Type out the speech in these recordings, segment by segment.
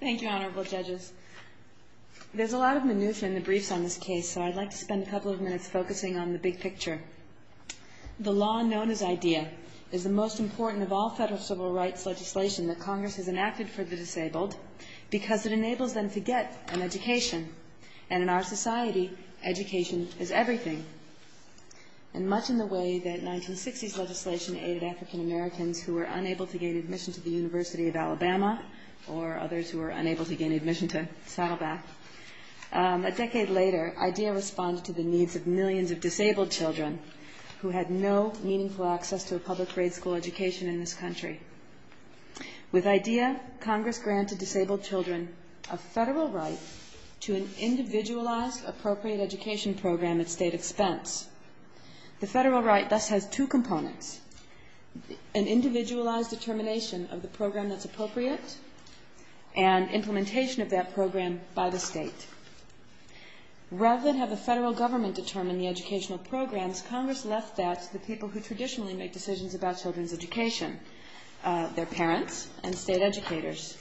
Thank you, Honorable Judges. There's a lot of minutia in the briefs on this case, so I'd like to spend a couple of minutes focusing on the big picture. The law known as IDEA is the most important of all federal civil rights legislation that Congress has enacted for the disabled because it enables them to get an education. And in our society, education is everything. And much in the way that 1960s legislation aided African Americans who were unable to gain admission to the University of Alabama or others who were unable to gain admission to Saddleback, a decade later IDEA responded to the needs of millions of disabled children who had no meaningful access to a public grade school education in this country. With IDEA, Congress granted disabled children a federal right to an individualized, appropriate education program at state expense. The federal right thus has two components, an individualized determination of the program that's appropriate and implementation of that program by the state. Rather than have the federal government determine the educational programs, Congress left that to the people who traditionally make decisions about children's education, their parents and state educators.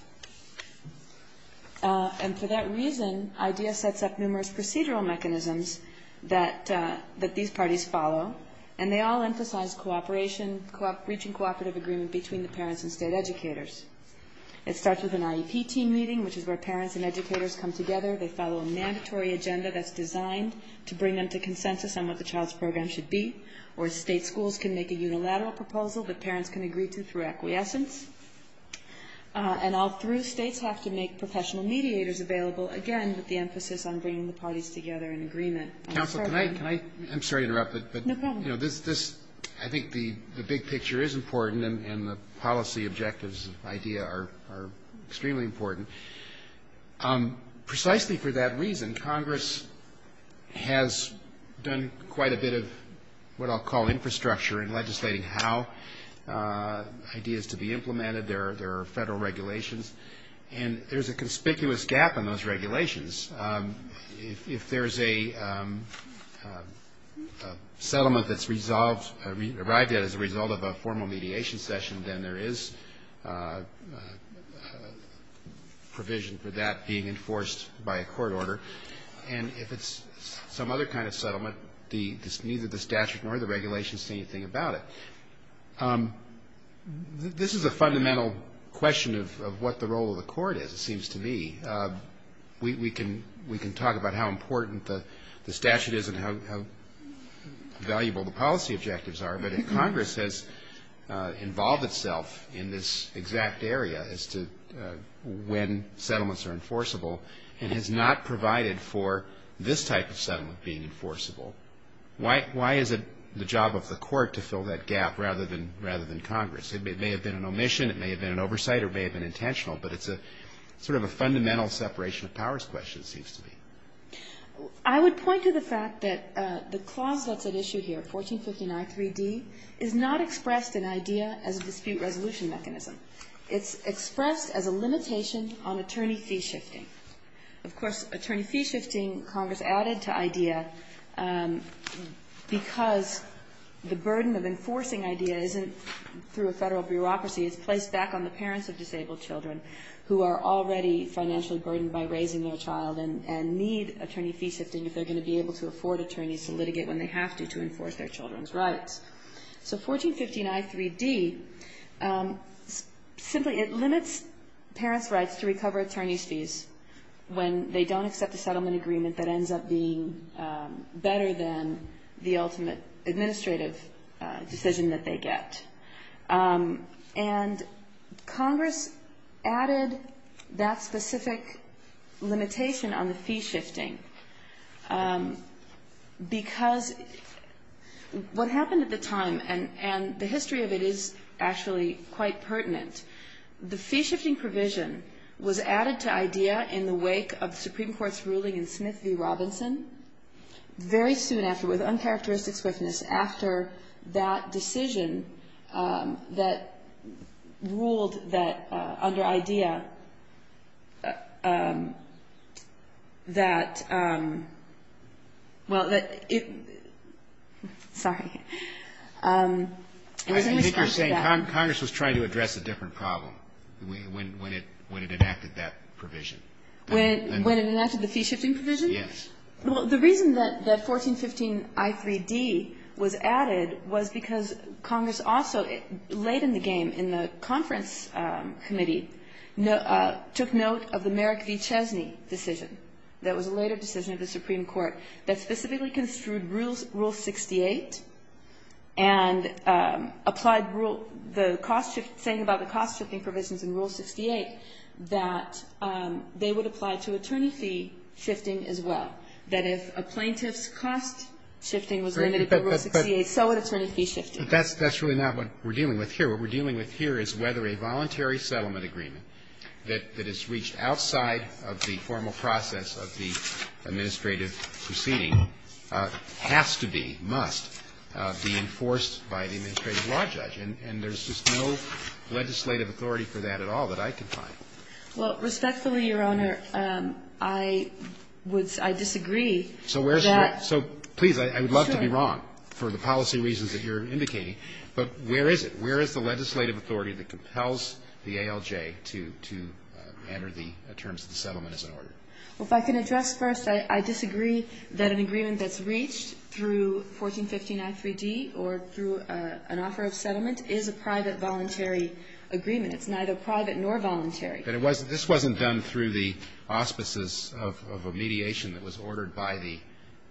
And for that reason, IDEA sets up numerous procedural mechanisms that these parties follow and they all emphasize reaching cooperative agreement between the parents and state educators. It starts with an IEP team meeting, which is where parents and educators come together. They follow a mandatory agenda that's designed to bring them to consensus on what the child's program should be or state schools can make a unilateral proposal that parents can agree to through acquiescence. And all three states have to make professional mediators available, again, with the emphasis on bringing the parties together in agreement. Counsel, can I? I'm sorry to interrupt. No problem. I think the big picture is important and the policy objectives of IDEA are extremely important. Precisely for that reason, Congress has done quite a bit of what I'll call infrastructure in legislating how IDEA is to be implemented. There are federal regulations, and there's a conspicuous gap in those regulations. If there's a settlement that's arrived at as a result of a formal mediation session, then there is provision for that being enforced by a court order. Neither the statute nor the regulations say anything about it. This is a fundamental question of what the role of the court is, it seems to me. We can talk about how important the statute is and how valuable the policy objectives are, but Congress has involved itself in this exact area as to when settlements are enforceable and has not provided for this type of settlement being enforceable. Why is it the job of the court to fill that gap rather than Congress? It may have been an omission, it may have been an oversight, or it may have been intentional, but it's sort of a fundamental separation of powers question, it seems to me. I would point to the fact that the clause that's at issue here, 1459-3D, is not expressed in IDEA as a dispute resolution mechanism. It's expressed as a limitation on attorney fee shifting. Of course, attorney fee shifting Congress added to IDEA because the burden of enforcing IDEA isn't through a federal bureaucracy, it's placed back on the parents of disabled children who are already financially burdened by raising their child and need attorney fee shifting if they're going to be able to afford attorneys to litigate when they have to, to enforce their children's rights. So 1459-3D, simply it limits parents' rights to recover attorney's fees when they don't accept a settlement agreement that ends up being better than the ultimate administrative decision that they get. And Congress added that specific limitation on the fee shifting because what happened at the time, and the history of it is actually quite pertinent, the fee shifting provision was added to IDEA in the wake of the Supreme Court's ruling in Smith v. Robinson very soon after, with uncharacteristic swiftness, after that decision that ruled that under IDEA that, well, that it, sorry. I was going to respond to that. I think you're saying Congress was trying to address a different problem when it enacted that provision. When it enacted the fee shifting provision? Yes. Well, the reason that 1415-I3D was added was because Congress also, late in the game in the conference committee, took note of the Merrick v. Chesney decision that was a later decision of the Supreme Court that specifically construed Rule 68 and applied the cost shift, saying about the cost shifting provisions in Rule 68 that they would apply to attorney fee shifting as well. That if a plaintiff's cost shifting was limited to Rule 68, so would attorney fee shifting. But that's really not what we're dealing with here. What we're dealing with here is whether a voluntary settlement agreement that is reached outside of the formal process of the administrative proceeding has to be, must be enforced by the administrative law judge. And there's just no legislative authority for that at all that I can find. Well, respectfully, Your Honor, I would, I disagree that. So where's the, so please, I would love to be wrong for the policy reasons that you're indicating, but where is it? Where is the legislative authority that compels the ALJ to enter the terms of the settlement as an order? Well, if I can address first, I disagree that an agreement that's reached through 1415i3d or through an offer of settlement is a private voluntary agreement. It's neither private nor voluntary. But it wasn't, this wasn't done through the auspices of a mediation that was ordered by the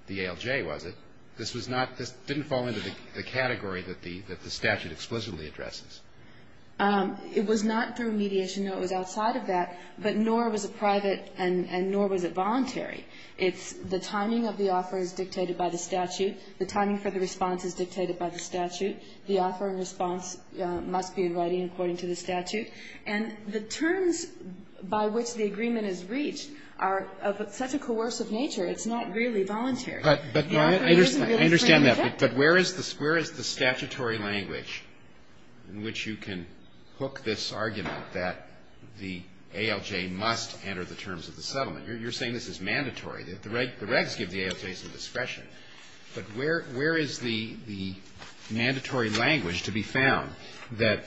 ALJ, was it? This was not, this didn't fall into the category that the statute explicitly addresses. It was not through mediation, no. It was outside of that. But nor was it private and nor was it voluntary. It's the timing of the offer is dictated by the statute. The timing for the response is dictated by the statute. The offer and response must be in writing according to the statute. And the terms by which the agreement is reached are of such a coercive nature, The offer isn't really the same effect. But I understand that. But where is the statutory language in which you can hook this argument that the ALJ must enter the terms of the settlement? You're saying this is mandatory. The regs give the ALJ some discretion. But where is the mandatory language to be found that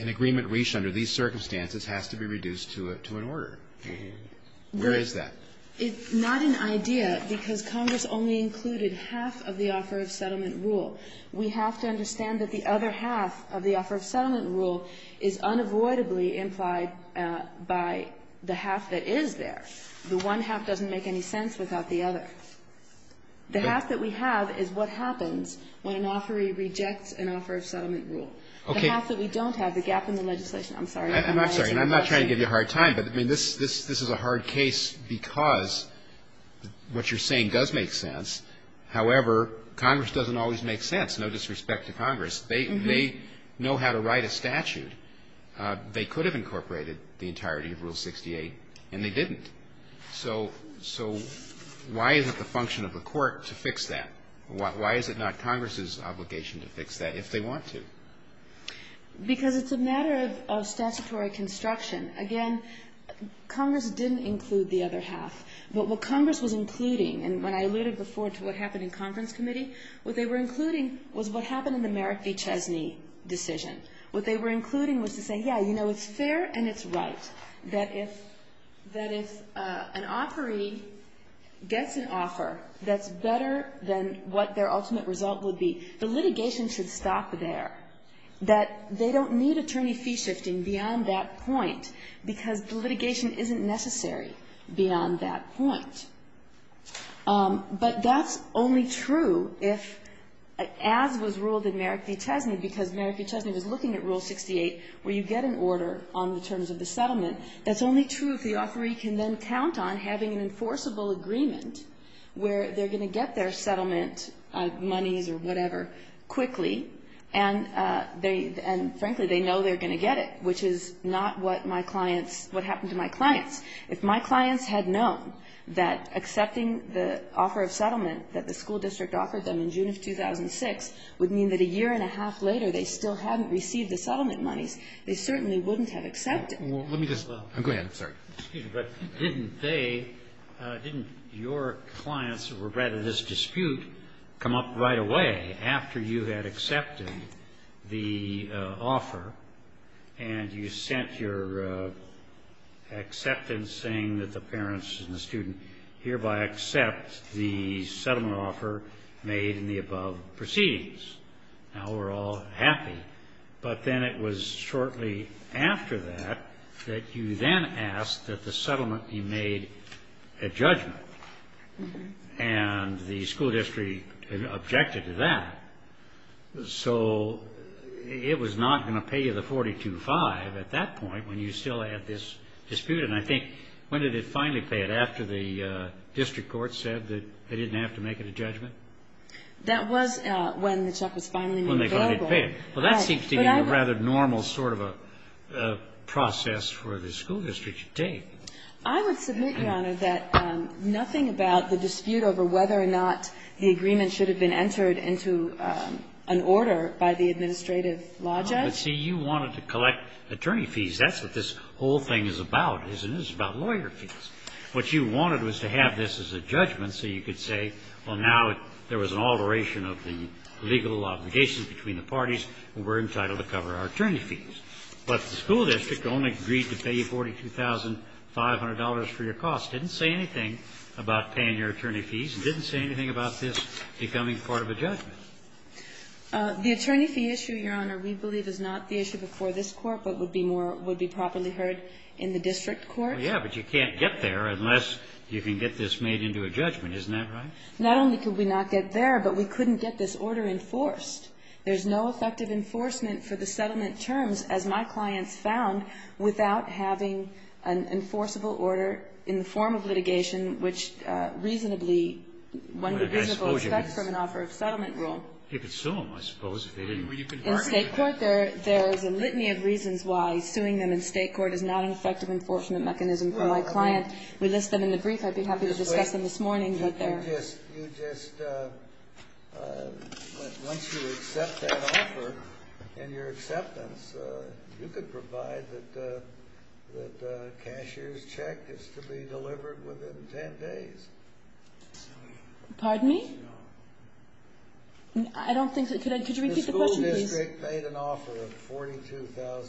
an agreement reached under these circumstances has to be reduced to an order? Where is that? It's not an idea because Congress only included half of the offer of settlement rule. We have to understand that the other half of the offer of settlement rule is unavoidably implied by the half that is there. The one half doesn't make any sense without the other. The half that we have is what happens when an offeree rejects an offer of settlement rule. Okay. The half that we don't have, the gap in the legislation. I'm sorry. I'm not sorry. I'm not trying to give you a hard time. But, I mean, this is a hard case because what you're saying does make sense. However, Congress doesn't always make sense. No disrespect to Congress. They know how to write a statute. They could have incorporated the entirety of Rule 68, and they didn't. So why is it the function of the court to fix that? Why is it not Congress's obligation to fix that if they want to? Because it's a matter of statutory construction. Again, Congress didn't include the other half. But what Congress was including, and when I alluded before to what happened in conference committee, what they were including was what happened in the Merrick v. Chesney decision. What they were including was to say, yeah, you know, it's fair and it's right that if an offeree gets an offer that's better than what their ultimate result would be, the litigation should stop there. That they don't need attorney fee shifting beyond that point because the litigation isn't necessary beyond that point. But that's only true if, as was ruled in Merrick v. Chesney, because Merrick v. Chesney was looking at Rule 68 where you get an order on the terms of the settlement. That's only true if the offeree can then count on having an enforceable agreement where they're going to get their settlement monies or whatever quickly. And frankly, they know they're going to get it, which is not what my clients, what happened to my clients. If my clients had known that accepting the offer of settlement that the school district offered them in June of 2006 would mean that a year and a half later they still hadn't received the settlement monies, they certainly wouldn't have accepted it. Let me just go ahead. Sorry. Excuse me. But didn't they, didn't your clients who were bred in this dispute come up right away after you had accepted the offer and you sent your acceptance saying that the parents and the student hereby accept the settlement offer made in the above proceedings? Now we're all happy. But then it was shortly after that that you then asked that the settlement be made a judgment. And the school district objected to that. So it was not going to pay you the 42-5 at that point when you still had this dispute. And I think when did it finally pay it? After the district court said that they didn't have to make it a judgment? That was when the check was finally made available. When they finally paid it. Well, that seems to be a rather normal sort of a process for the school district to take. I would submit, Your Honor, that nothing about the dispute over whether or not the agreement should have been entered into an order by the administrative law judge. But see, you wanted to collect attorney fees. That's what this whole thing is about, isn't it? It's about lawyer fees. What you wanted was to have this as a judgment so you could say, well, now there was an alteration of the legal obligations between the parties. We're entitled to cover our attorney fees. But the school district only agreed to pay you $42,500 for your costs, didn't say anything about paying your attorney fees, and didn't say anything about this becoming part of a judgment. The attorney fee issue, Your Honor, we believe is not the issue before this Court but would be more – would be properly heard in the district court. Well, yeah, but you can't get there unless you can get this made into a judgment. Isn't that right? Not only could we not get there, but we couldn't get this order enforced. There's no effective enforcement for the settlement terms, as my clients found, without having an enforceable order in the form of litigation which reasonably one would reasonably expect from an offer of settlement rule. You could sue them, I suppose, if they didn't. In State court there's a litany of reasons why suing them in State court is not an effective enforcement mechanism for my client. We list them in the brief. I'd be happy to discuss them this morning, but they're – You just – once you accept that offer and your acceptance, you could provide that cashier's check is to be delivered within 10 days. Pardon me? I don't think that – could you repeat the question, please? The school district paid an offer of $42,500,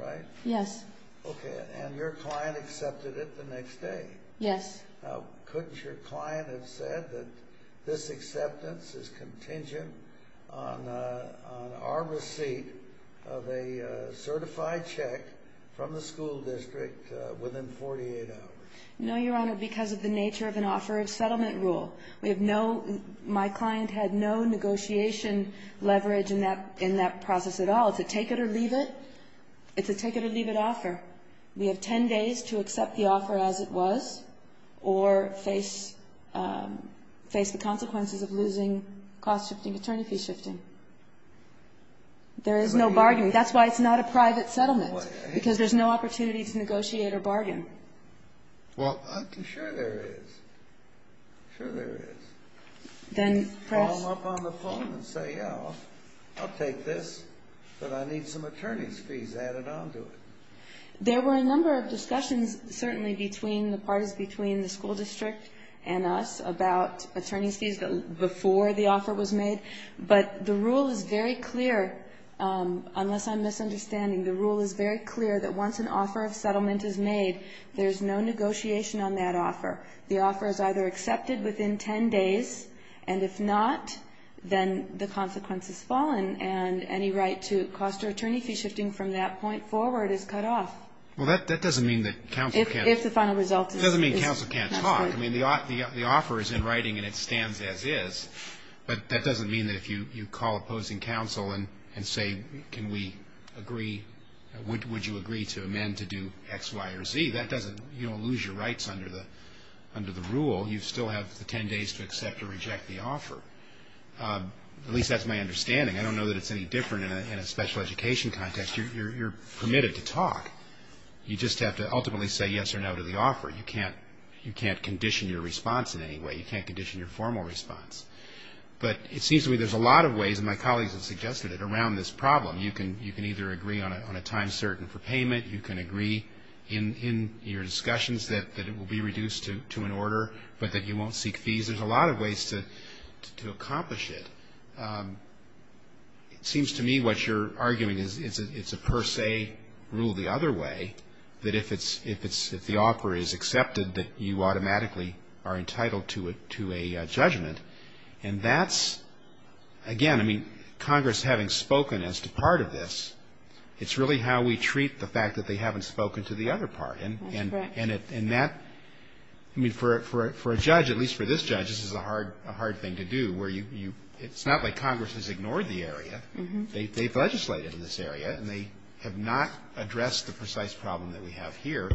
right? Yes. Okay. And your client accepted it the next day? Yes. Now, couldn't your client have said that this acceptance is contingent on our receipt of a certified check from the school district within 48 hours? No, Your Honor, because of the nature of an offer of settlement rule. We have no – my client had no negotiation leverage in that process at all. It's a take-it-or-leave-it. It's a take-it-or-leave-it offer. We have 10 days to accept the offer as it was or face the consequences of losing cost shifting, attorney fee shifting. There is no bargaining. That's why it's not a private settlement, because there's no opportunity to negotiate or bargain. Well, I'm sure there is. I'm sure there is. Then perhaps – But I need some attorney's fees added on to it. There were a number of discussions, certainly, between the parties between the school district and us about attorney's fees before the offer was made. But the rule is very clear, unless I'm misunderstanding. The rule is very clear that once an offer of settlement is made, there's no negotiation on that offer. The offer is either accepted within 10 days, and if not, then the consequence is fallen, and any right to cost or attorney fee shifting from that point forward is cut off. Well, that doesn't mean that counsel can't – If the final result is – It doesn't mean counsel can't talk. I mean, the offer is in writing, and it stands as is. But that doesn't mean that if you call opposing counsel and say, can we agree – would you agree to amend to do X, Y, or Z, that doesn't – you don't lose your rights under the rule. You still have the 10 days to accept or reject the offer. At least that's my understanding. I don't know that it's any different in a special education context. You're permitted to talk. You just have to ultimately say yes or no to the offer. You can't condition your response in any way. You can't condition your formal response. But it seems to me there's a lot of ways, and my colleagues have suggested it, around this problem. You can either agree on a time certain for payment. You can agree in your discussions that it will be reduced to an order, but that you won't seek fees. There's a lot of ways to accomplish it. It seems to me what you're arguing is it's a per se rule the other way, that if the offer is accepted, that you automatically are entitled to a judgment. And that's – again, I mean, Congress having spoken as to part of this, it's really how we treat the fact that they haven't spoken to the other part. That's correct. I mean, for a judge, at least for this judge, this is a hard thing to do, where it's not like Congress has ignored the area. They've legislated in this area, and they have not addressed the precise problem that we have here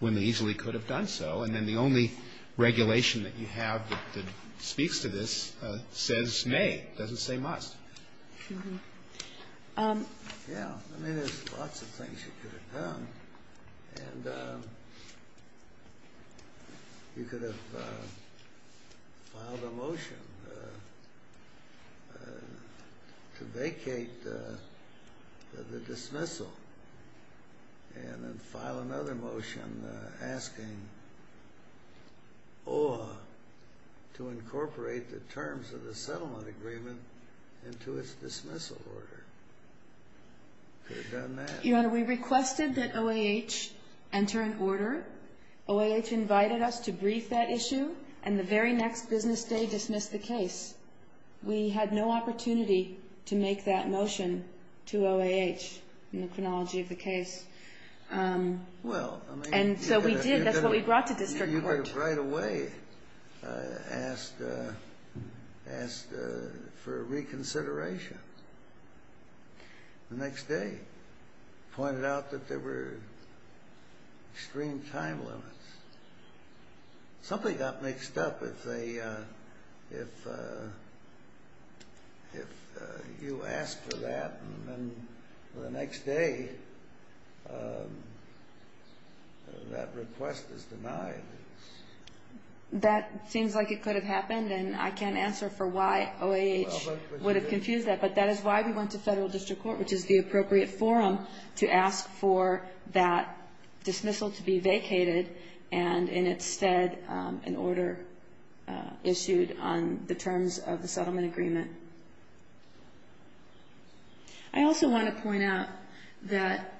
when they easily could have done so. And then the only regulation that you have that speaks to this says may. It doesn't say must. Yeah, I mean, there's lots of things you could have done. And you could have filed a motion to vacate the dismissal and then file another motion asking OAH to incorporate the terms of the settlement agreement into its dismissal order. You could have done that. Your Honor, we requested that OAH enter an order. OAH invited us to brief that issue, and the very next business day dismissed the case. We had no opportunity to make that motion to OAH in the chronology of the case. Well, I mean – And so we did. That's what we brought to district court. They right away asked for reconsideration. The next day pointed out that there were extreme time limits. Something got mixed up if you asked for that, and the next day that request was denied. That seems like it could have happened, and I can't answer for why OAH would have confused that, but that is why we went to federal district court, which is the appropriate forum to ask for that dismissal to be vacated and instead an order issued on the terms of the settlement agreement. I also want to point out that,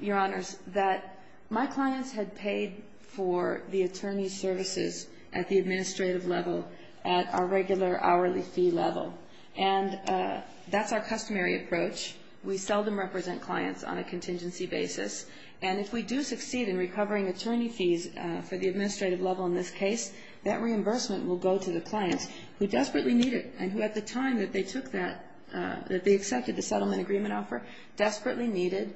Your Honors, that my clients had paid for the attorney's services at the administrative level at our regular hourly fee level, and that's our customary approach. We seldom represent clients on a contingency basis, and if we do succeed in recovering attorney fees for the administrative level in this case, that reimbursement will go to the clients who desperately need it and who at the time that they accepted the settlement agreement offer desperately needed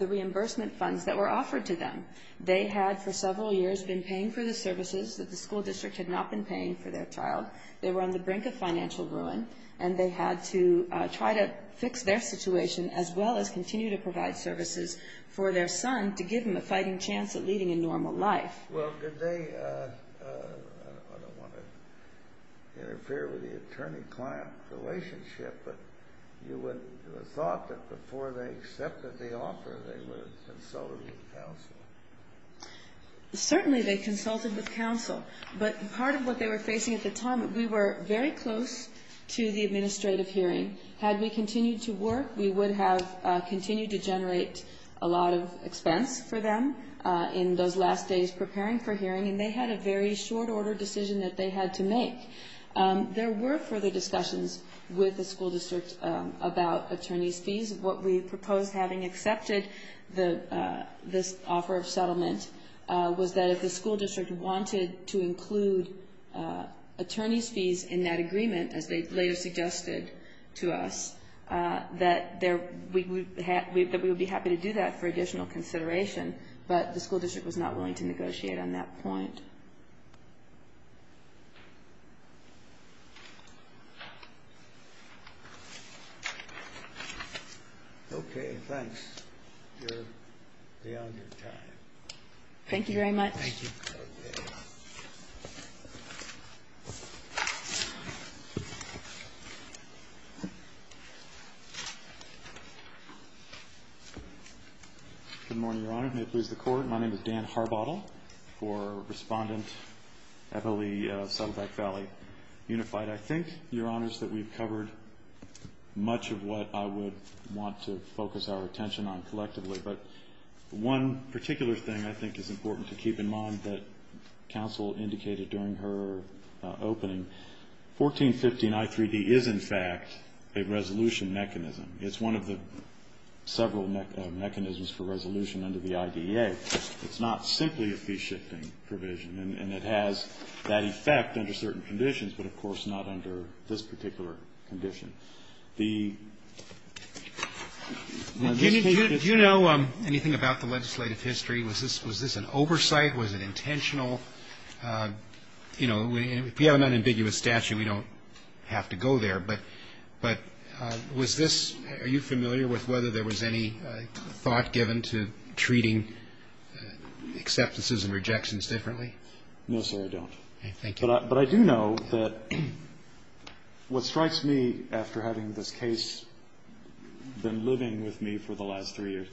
the reimbursement funds that were offered to them. They had for several years been paying for the services that the school district had not been paying for their child. They were on the brink of financial ruin, and they had to try to fix their situation as well as continue to provide services for their son to give him a fighting chance at leading a normal life. Well, did they, I don't want to interfere with the attorney-client relationship, but you would have thought that before they accepted the offer they would have consulted with counsel. Certainly they consulted with counsel, but part of what they were facing at the time, we were very close to the administrative hearing. Had we continued to work, we would have continued to generate a lot of expense for them in those last days preparing for hearing, and they had a very short order decision that they had to make. There were further discussions with the school district about attorney's fees. What we proposed having accepted this offer of settlement was that if the school district wanted to include attorney's fees in that agreement, as they later suggested to us, that we would be happy to do that for additional consideration, but the school district was not willing to negotiate on that point. Okay, thanks. You're beyond your time. Thank you very much. Thank you. Good morning, Your Honor. May it please the Court. My name is Dan Harbottle for Respondent Eppley, Saddleback Valley Unified. I think, Your Honors, that we've covered much of what I would want to focus our attention on collectively, but one particular thing I think is important to keep in mind that counsel indicated during her opening, 1415 I3D is, in fact, a resolution mechanism. It's one of the several mechanisms for resolution under the IDEA. It's not simply a fee-shifting provision, and it has that effect under certain conditions, but, of course, not under this particular condition. Do you know anything about the legislative history? Was this an oversight? Was it intentional? You know, if you have an unambiguous statute, we don't have to go there, but was this ñ are you familiar with whether there was any thought given to treating acceptances and rejections differently? No, sir, I don't. Okay, thank you. But I do know that what strikes me after having this case been living with me for the last three years,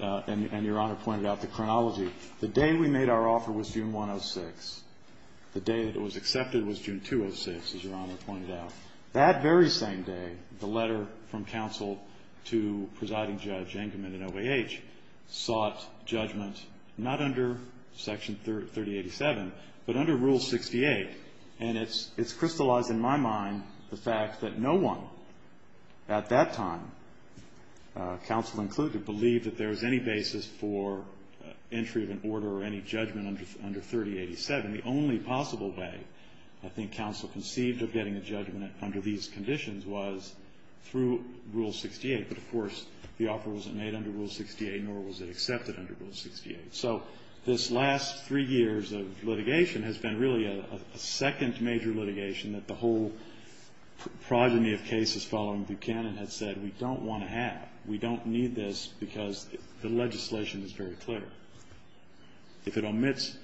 and Your Honor pointed out the chronology, the day we made our offer was June 106. The day that it was accepted was June 206, as Your Honor pointed out. That very same day, the letter from counsel to presiding judge Engelman at OAH sought judgment, not under Section 3087, but under Rule 68. And it's crystallized in my mind the fact that no one at that time, counsel included, believed that there was any basis for entry of an order or any judgment under 3087. The only possible way, I think, counsel conceived of getting a judgment under these conditions was through Rule 68. But, of course, the offer wasn't made under Rule 68, nor was it accepted under Rule 68. So this last three years of litigation has been really a second major litigation that the whole progeny of cases following Buchanan had said, we don't want to have. We don't need this because the legislation is very clear. If it omits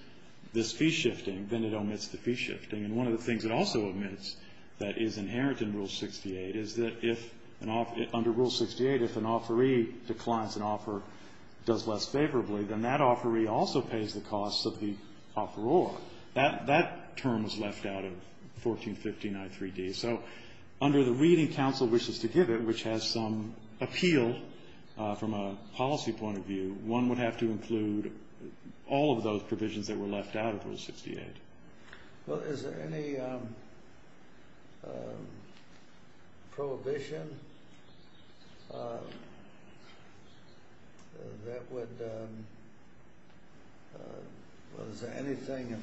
this fee shifting, then it omits the fee shifting. And one of the things it also omits that is inherent in Rule 68 is that if an offer under Rule 68, if an offeree declines an offer, does less favorably, then that offeree also pays the costs of the offeror. That term was left out of 14593d. So under the reading counsel wishes to give it, which has some appeal from a policy point of view, one would have to include all of those provisions that were left out of Rule 68. Well, is there any prohibition that would, well, is there anything in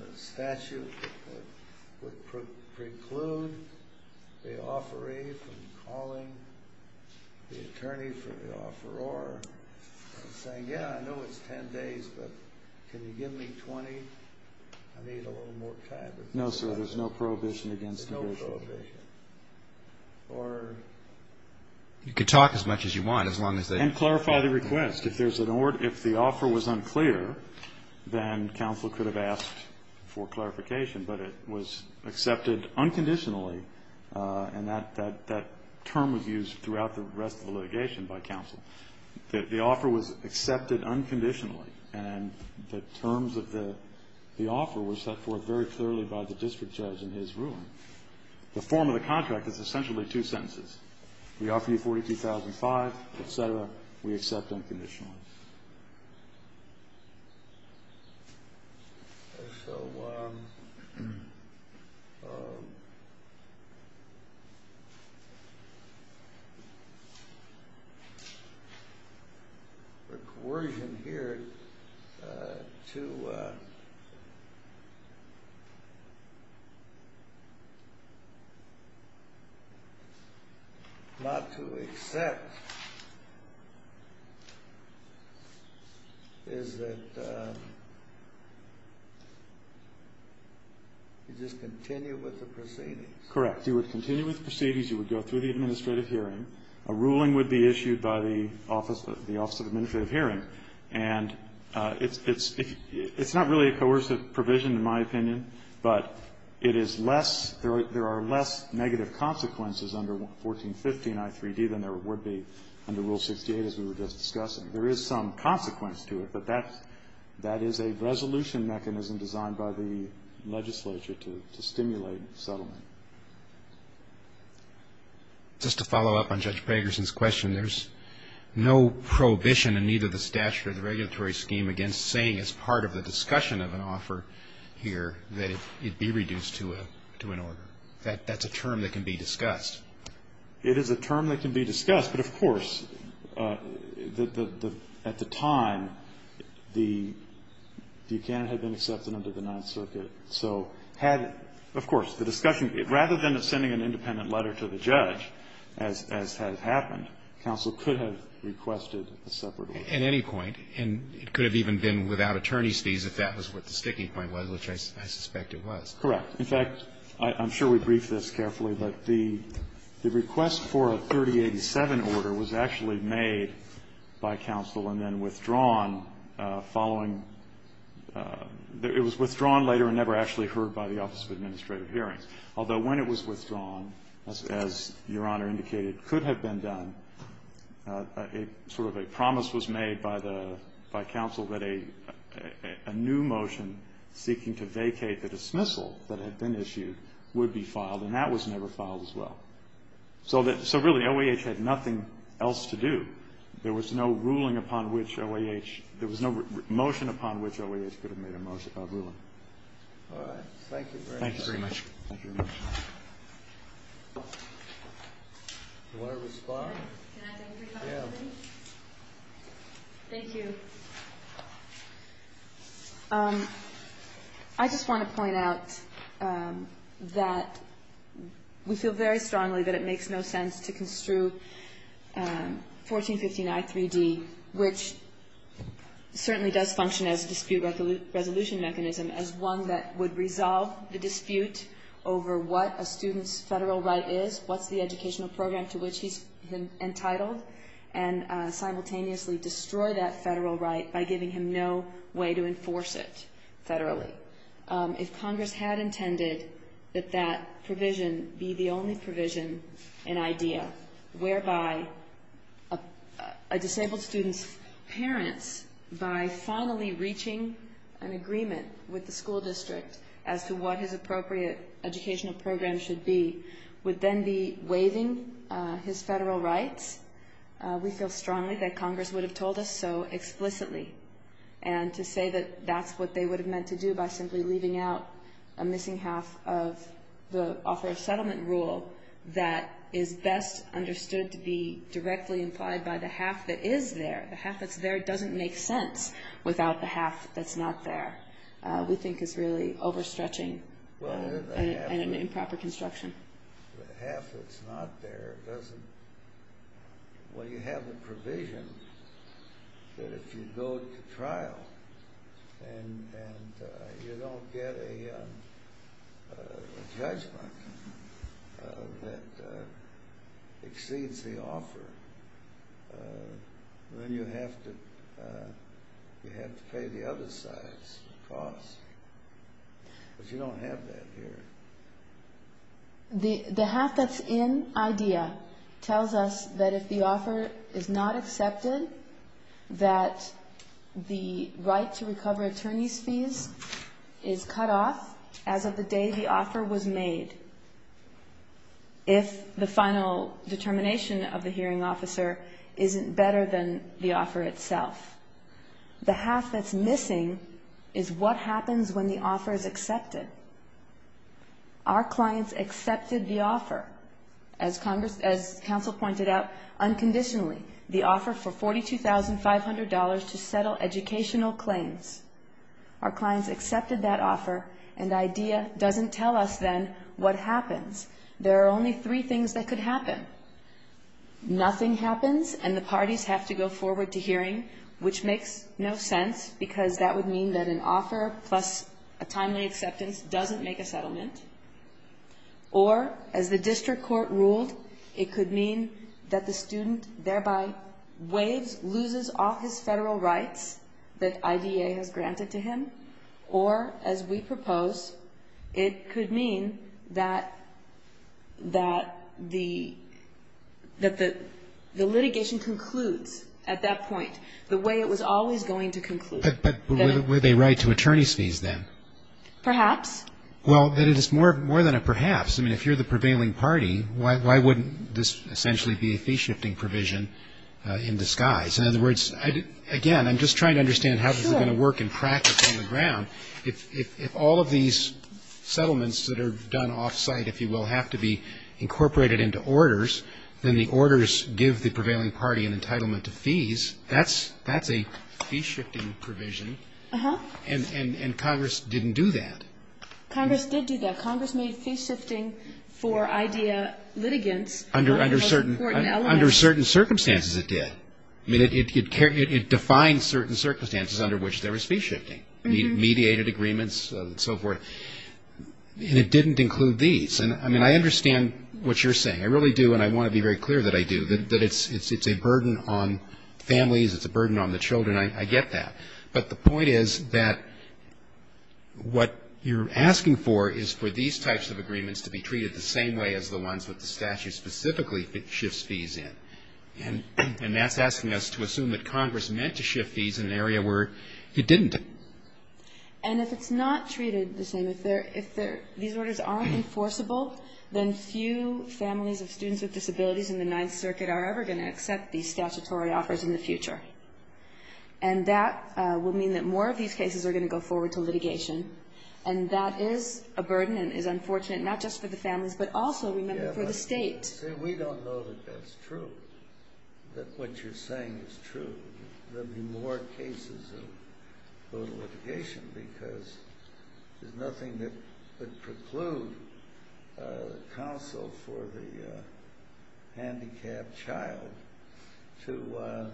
the statute that would preclude the offeree from calling the attorney for the offeror and saying, yeah, I know it's 10 days, but can you give me 20? I need a little more time. No, sir. There's no prohibition against negation. There's no prohibition. Or... You could talk as much as you want, as long as they... And clarify the request. If there's an order, if the offer was unclear, then counsel could have asked for clarification, but it was accepted unconditionally. And that term was used throughout the rest of the litigation by counsel. The offer was accepted unconditionally, and the terms of the offer were set forth very clearly by the district judge in his ruling. The form of the contract is essentially two sentences. We offer you 42,005, et cetera. We accept unconditionally. So... The coercion here to... Not to accept... Is that... You just continue with the proceedings. Correct. You would continue with the proceedings. You would go through the administrative hearing. A ruling would be issued by the Office of the Administrative Hearing. And it's not really a coercive provision, in my opinion, but it is less... 1415 I3D than there would be under Rule 68, as we were just discussing. There is some consequence to it, but that is a resolution mechanism designed by the legislature to stimulate settlement. Just to follow up on Judge Pagerson's question, there's no prohibition in either the statute or the regulatory scheme against saying, as part of the discussion of an offer here, that it be reduced to an order. That's a term that can be discussed. It is a term that can be discussed. But, of course, at the time, the account had been accepted under the Ninth Circuit. So had, of course, the discussion... Rather than sending an independent letter to the judge, as has happened, counsel could have requested a separate order. At any point. And it could have even been without attorney's fees if that was what the sticking point was, which I suspect it was. Correct. In fact, I'm sure we've briefed this carefully, but the request for a 3087 order was actually made by counsel and then withdrawn following the – it was withdrawn later and never actually heard by the Office of Administrative Hearings. Although when it was withdrawn, as Your Honor indicated, could have been done. A sort of a promise was made by the – by counsel that a new motion seeking to vacate the dismissal that had been issued would be filed. And that was never filed as well. So really, OAH had nothing else to do. There was no ruling upon which OAH – there was no motion upon which OAH could have made a ruling. All right. Thank you very much. Thank you very much. Do you want to respond? Can I take three questions? Yeah. Thank you. I just want to point out that we feel very strongly that it makes no sense to construe 1459-3D, which certainly does function as a dispute resolution mechanism, as one that would resolve the dispute over what a student's federal right is, what's the educational program to which he's entitled, and simultaneously destroy that federal right by giving him no way to enforce it federally. If Congress had intended that that provision be the only provision and idea whereby a disabled student's parents, by finally reaching an agreement with the school district as to what his appropriate educational program should be, would then be waiving his federal rights, we feel strongly that Congress would have told us so explicitly. And to say that that's what they would have meant to do by simply leaving out a missing half of the offer of settlement rule that is best understood to be directly implied by the half that is there, the half that's there, doesn't make sense without the half that's not there. We think it's really overstretching and an improper construction. The half that's not there doesn't... Well, you have the provision that if you go to trial and you don't get a judgment that you don't have that here. The half that's in idea tells us that if the offer is not accepted, that the right to recover attorney's fees is cut off as of the day the offer was made, if the final determination of the hearing officer isn't better than the offer itself. The half that's missing is what happens when the offer is accepted. Our clients accepted the offer, as counsel pointed out, unconditionally, the offer for $42,500 to settle educational claims. Our clients accepted that offer and idea doesn't tell us then what happens. There are only three things that could happen. Nothing happens and the parties have to go forward to hearing, which makes no sense because that would mean that an offer plus a timely acceptance doesn't make a settlement. Or, as the district court ruled, it could mean that the student thereby waives, loses all his federal rights that IDA has granted to him. Or, as we propose, it could mean that the litigation concludes at that point the way it was always going to conclude. But with a right to attorney's fees then? Perhaps. Well, it is more than a perhaps. I mean, if you're the prevailing party, why wouldn't this essentially be a fee-shifting provision in disguise? In other words, again, I'm just trying to understand how this is going to work in practice on the ground. If all of these settlements that are done off-site, if you will, have to be incorporated into orders, then the orders give the prevailing party an entitlement to fees. That's a fee-shifting provision. Uh-huh. And Congress didn't do that. Congress did do that. Congress made fee-shifting for IDA litigants one of the most important elements. Under certain circumstances it did. I mean, it defined certain circumstances under which there was fee-shifting. Mediated agreements and so forth. And it didn't include these. And, I mean, I understand what you're saying. I really do, and I want to be very clear that I do, that it's a burden on families. It's a burden on the children. I get that. But the point is that what you're asking for is for these types of agreements to be treated the same way as the ones that the statute specifically shifts fees in. And that's asking us to assume that Congress meant to shift fees in an area where it didn't. And if it's not treated the same, if these orders aren't enforceable, then few families of students with disabilities in the Ninth Circuit are ever going to accept these statutory offers in the future. And that will mean that more of these cases are going to go forward to litigation. And that is a burden and is unfortunate, not just for the families, but also, remember, for the state. See, we don't know that that's true, that what you're saying is true. There will be more cases of litigation because there's nothing that would preclude counsel for the handicapped child to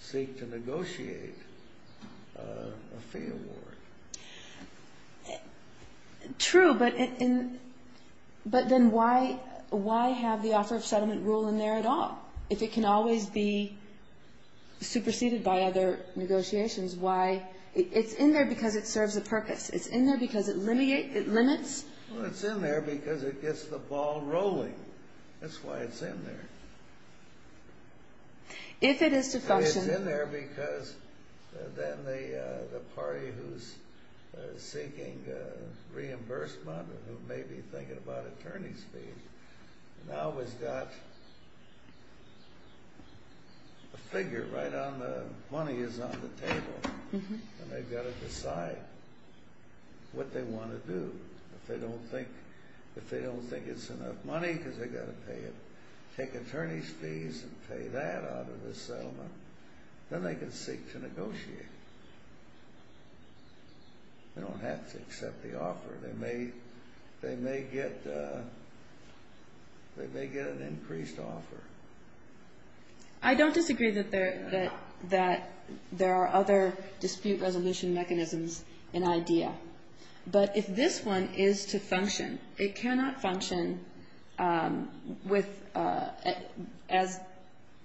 seek to negotiate a fee award. True, but then why have the offer of settlement rule in there at all if it can always be superseded by other negotiations? Why? It's in there because it serves a purpose. It's in there because it limits. Well, it's in there because it gets the ball rolling. That's why it's in there. If it is to function. It's in there because then the party who's seeking reimbursement, who may be thinking about attorney's fees, now has got a figure right on the money is on the table. And they've got to decide what they want to do. If they don't think it's enough money because they've got to pay it, take attorney's fees and pay that out of the settlement, then they can seek to negotiate. They don't have to accept the offer. They may get an increased offer. I don't disagree that there are other dispute resolution mechanisms in IDEA. But if this one is to function, it cannot function as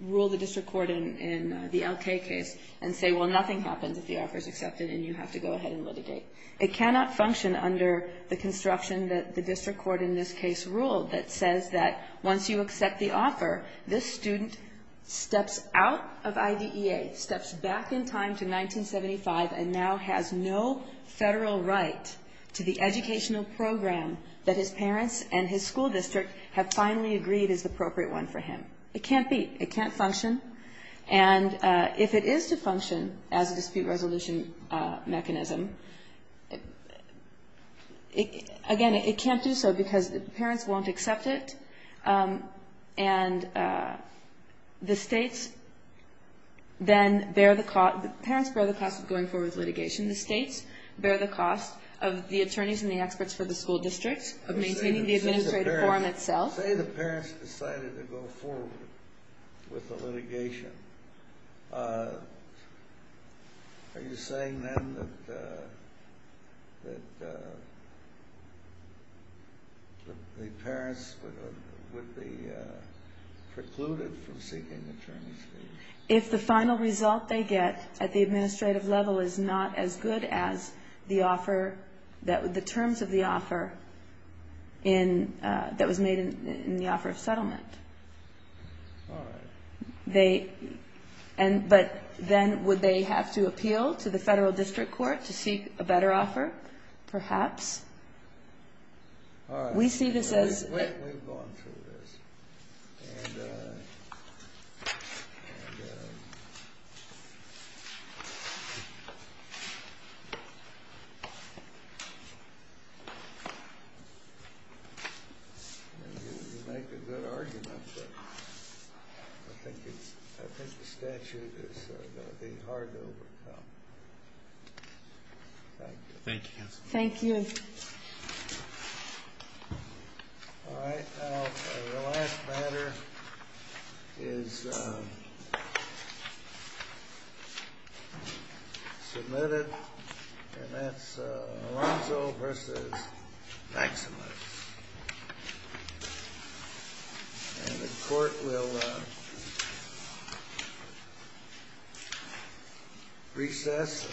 ruled the district court in the L.K. case and say, well, nothing happens if the offer is accepted and you have to go ahead and litigate. It cannot function under the construction that the district court in this case ruled that says that once you accept the offer, this student steps out of IDEA, steps back in time to 1975, and now has no federal right to the educational program that his parents and his school district have finally agreed is the appropriate one for him. It can't be. It can't function. And if it is to function as a dispute resolution mechanism, again, it can't do so because the parents won't accept it. And the states then bear the cost. The parents bear the cost of going forward with litigation. The states bear the cost of the attorneys and the experts for the school district of maintaining the administrative forum itself. Say the parents decided to go forward with the litigation. Are you saying then that the parents would be precluded from seeking attorney's fees? If the final result they get at the administrative level is not as good as the offer that the terms of the offer that was made in the offer of settlement. All right. But then would they have to appeal to the federal district court to seek a better offer? Perhaps. All right. We see this as. We've gone through this. And. You make a good argument. I think the statute is going to be hard to overcome. Thank you. Thank you. All right. The last matter is submitted. And that's Alonzo versus Maximus. And the court will recess.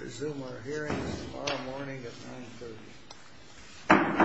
Resume our hearing tomorrow morning at 930. Okay.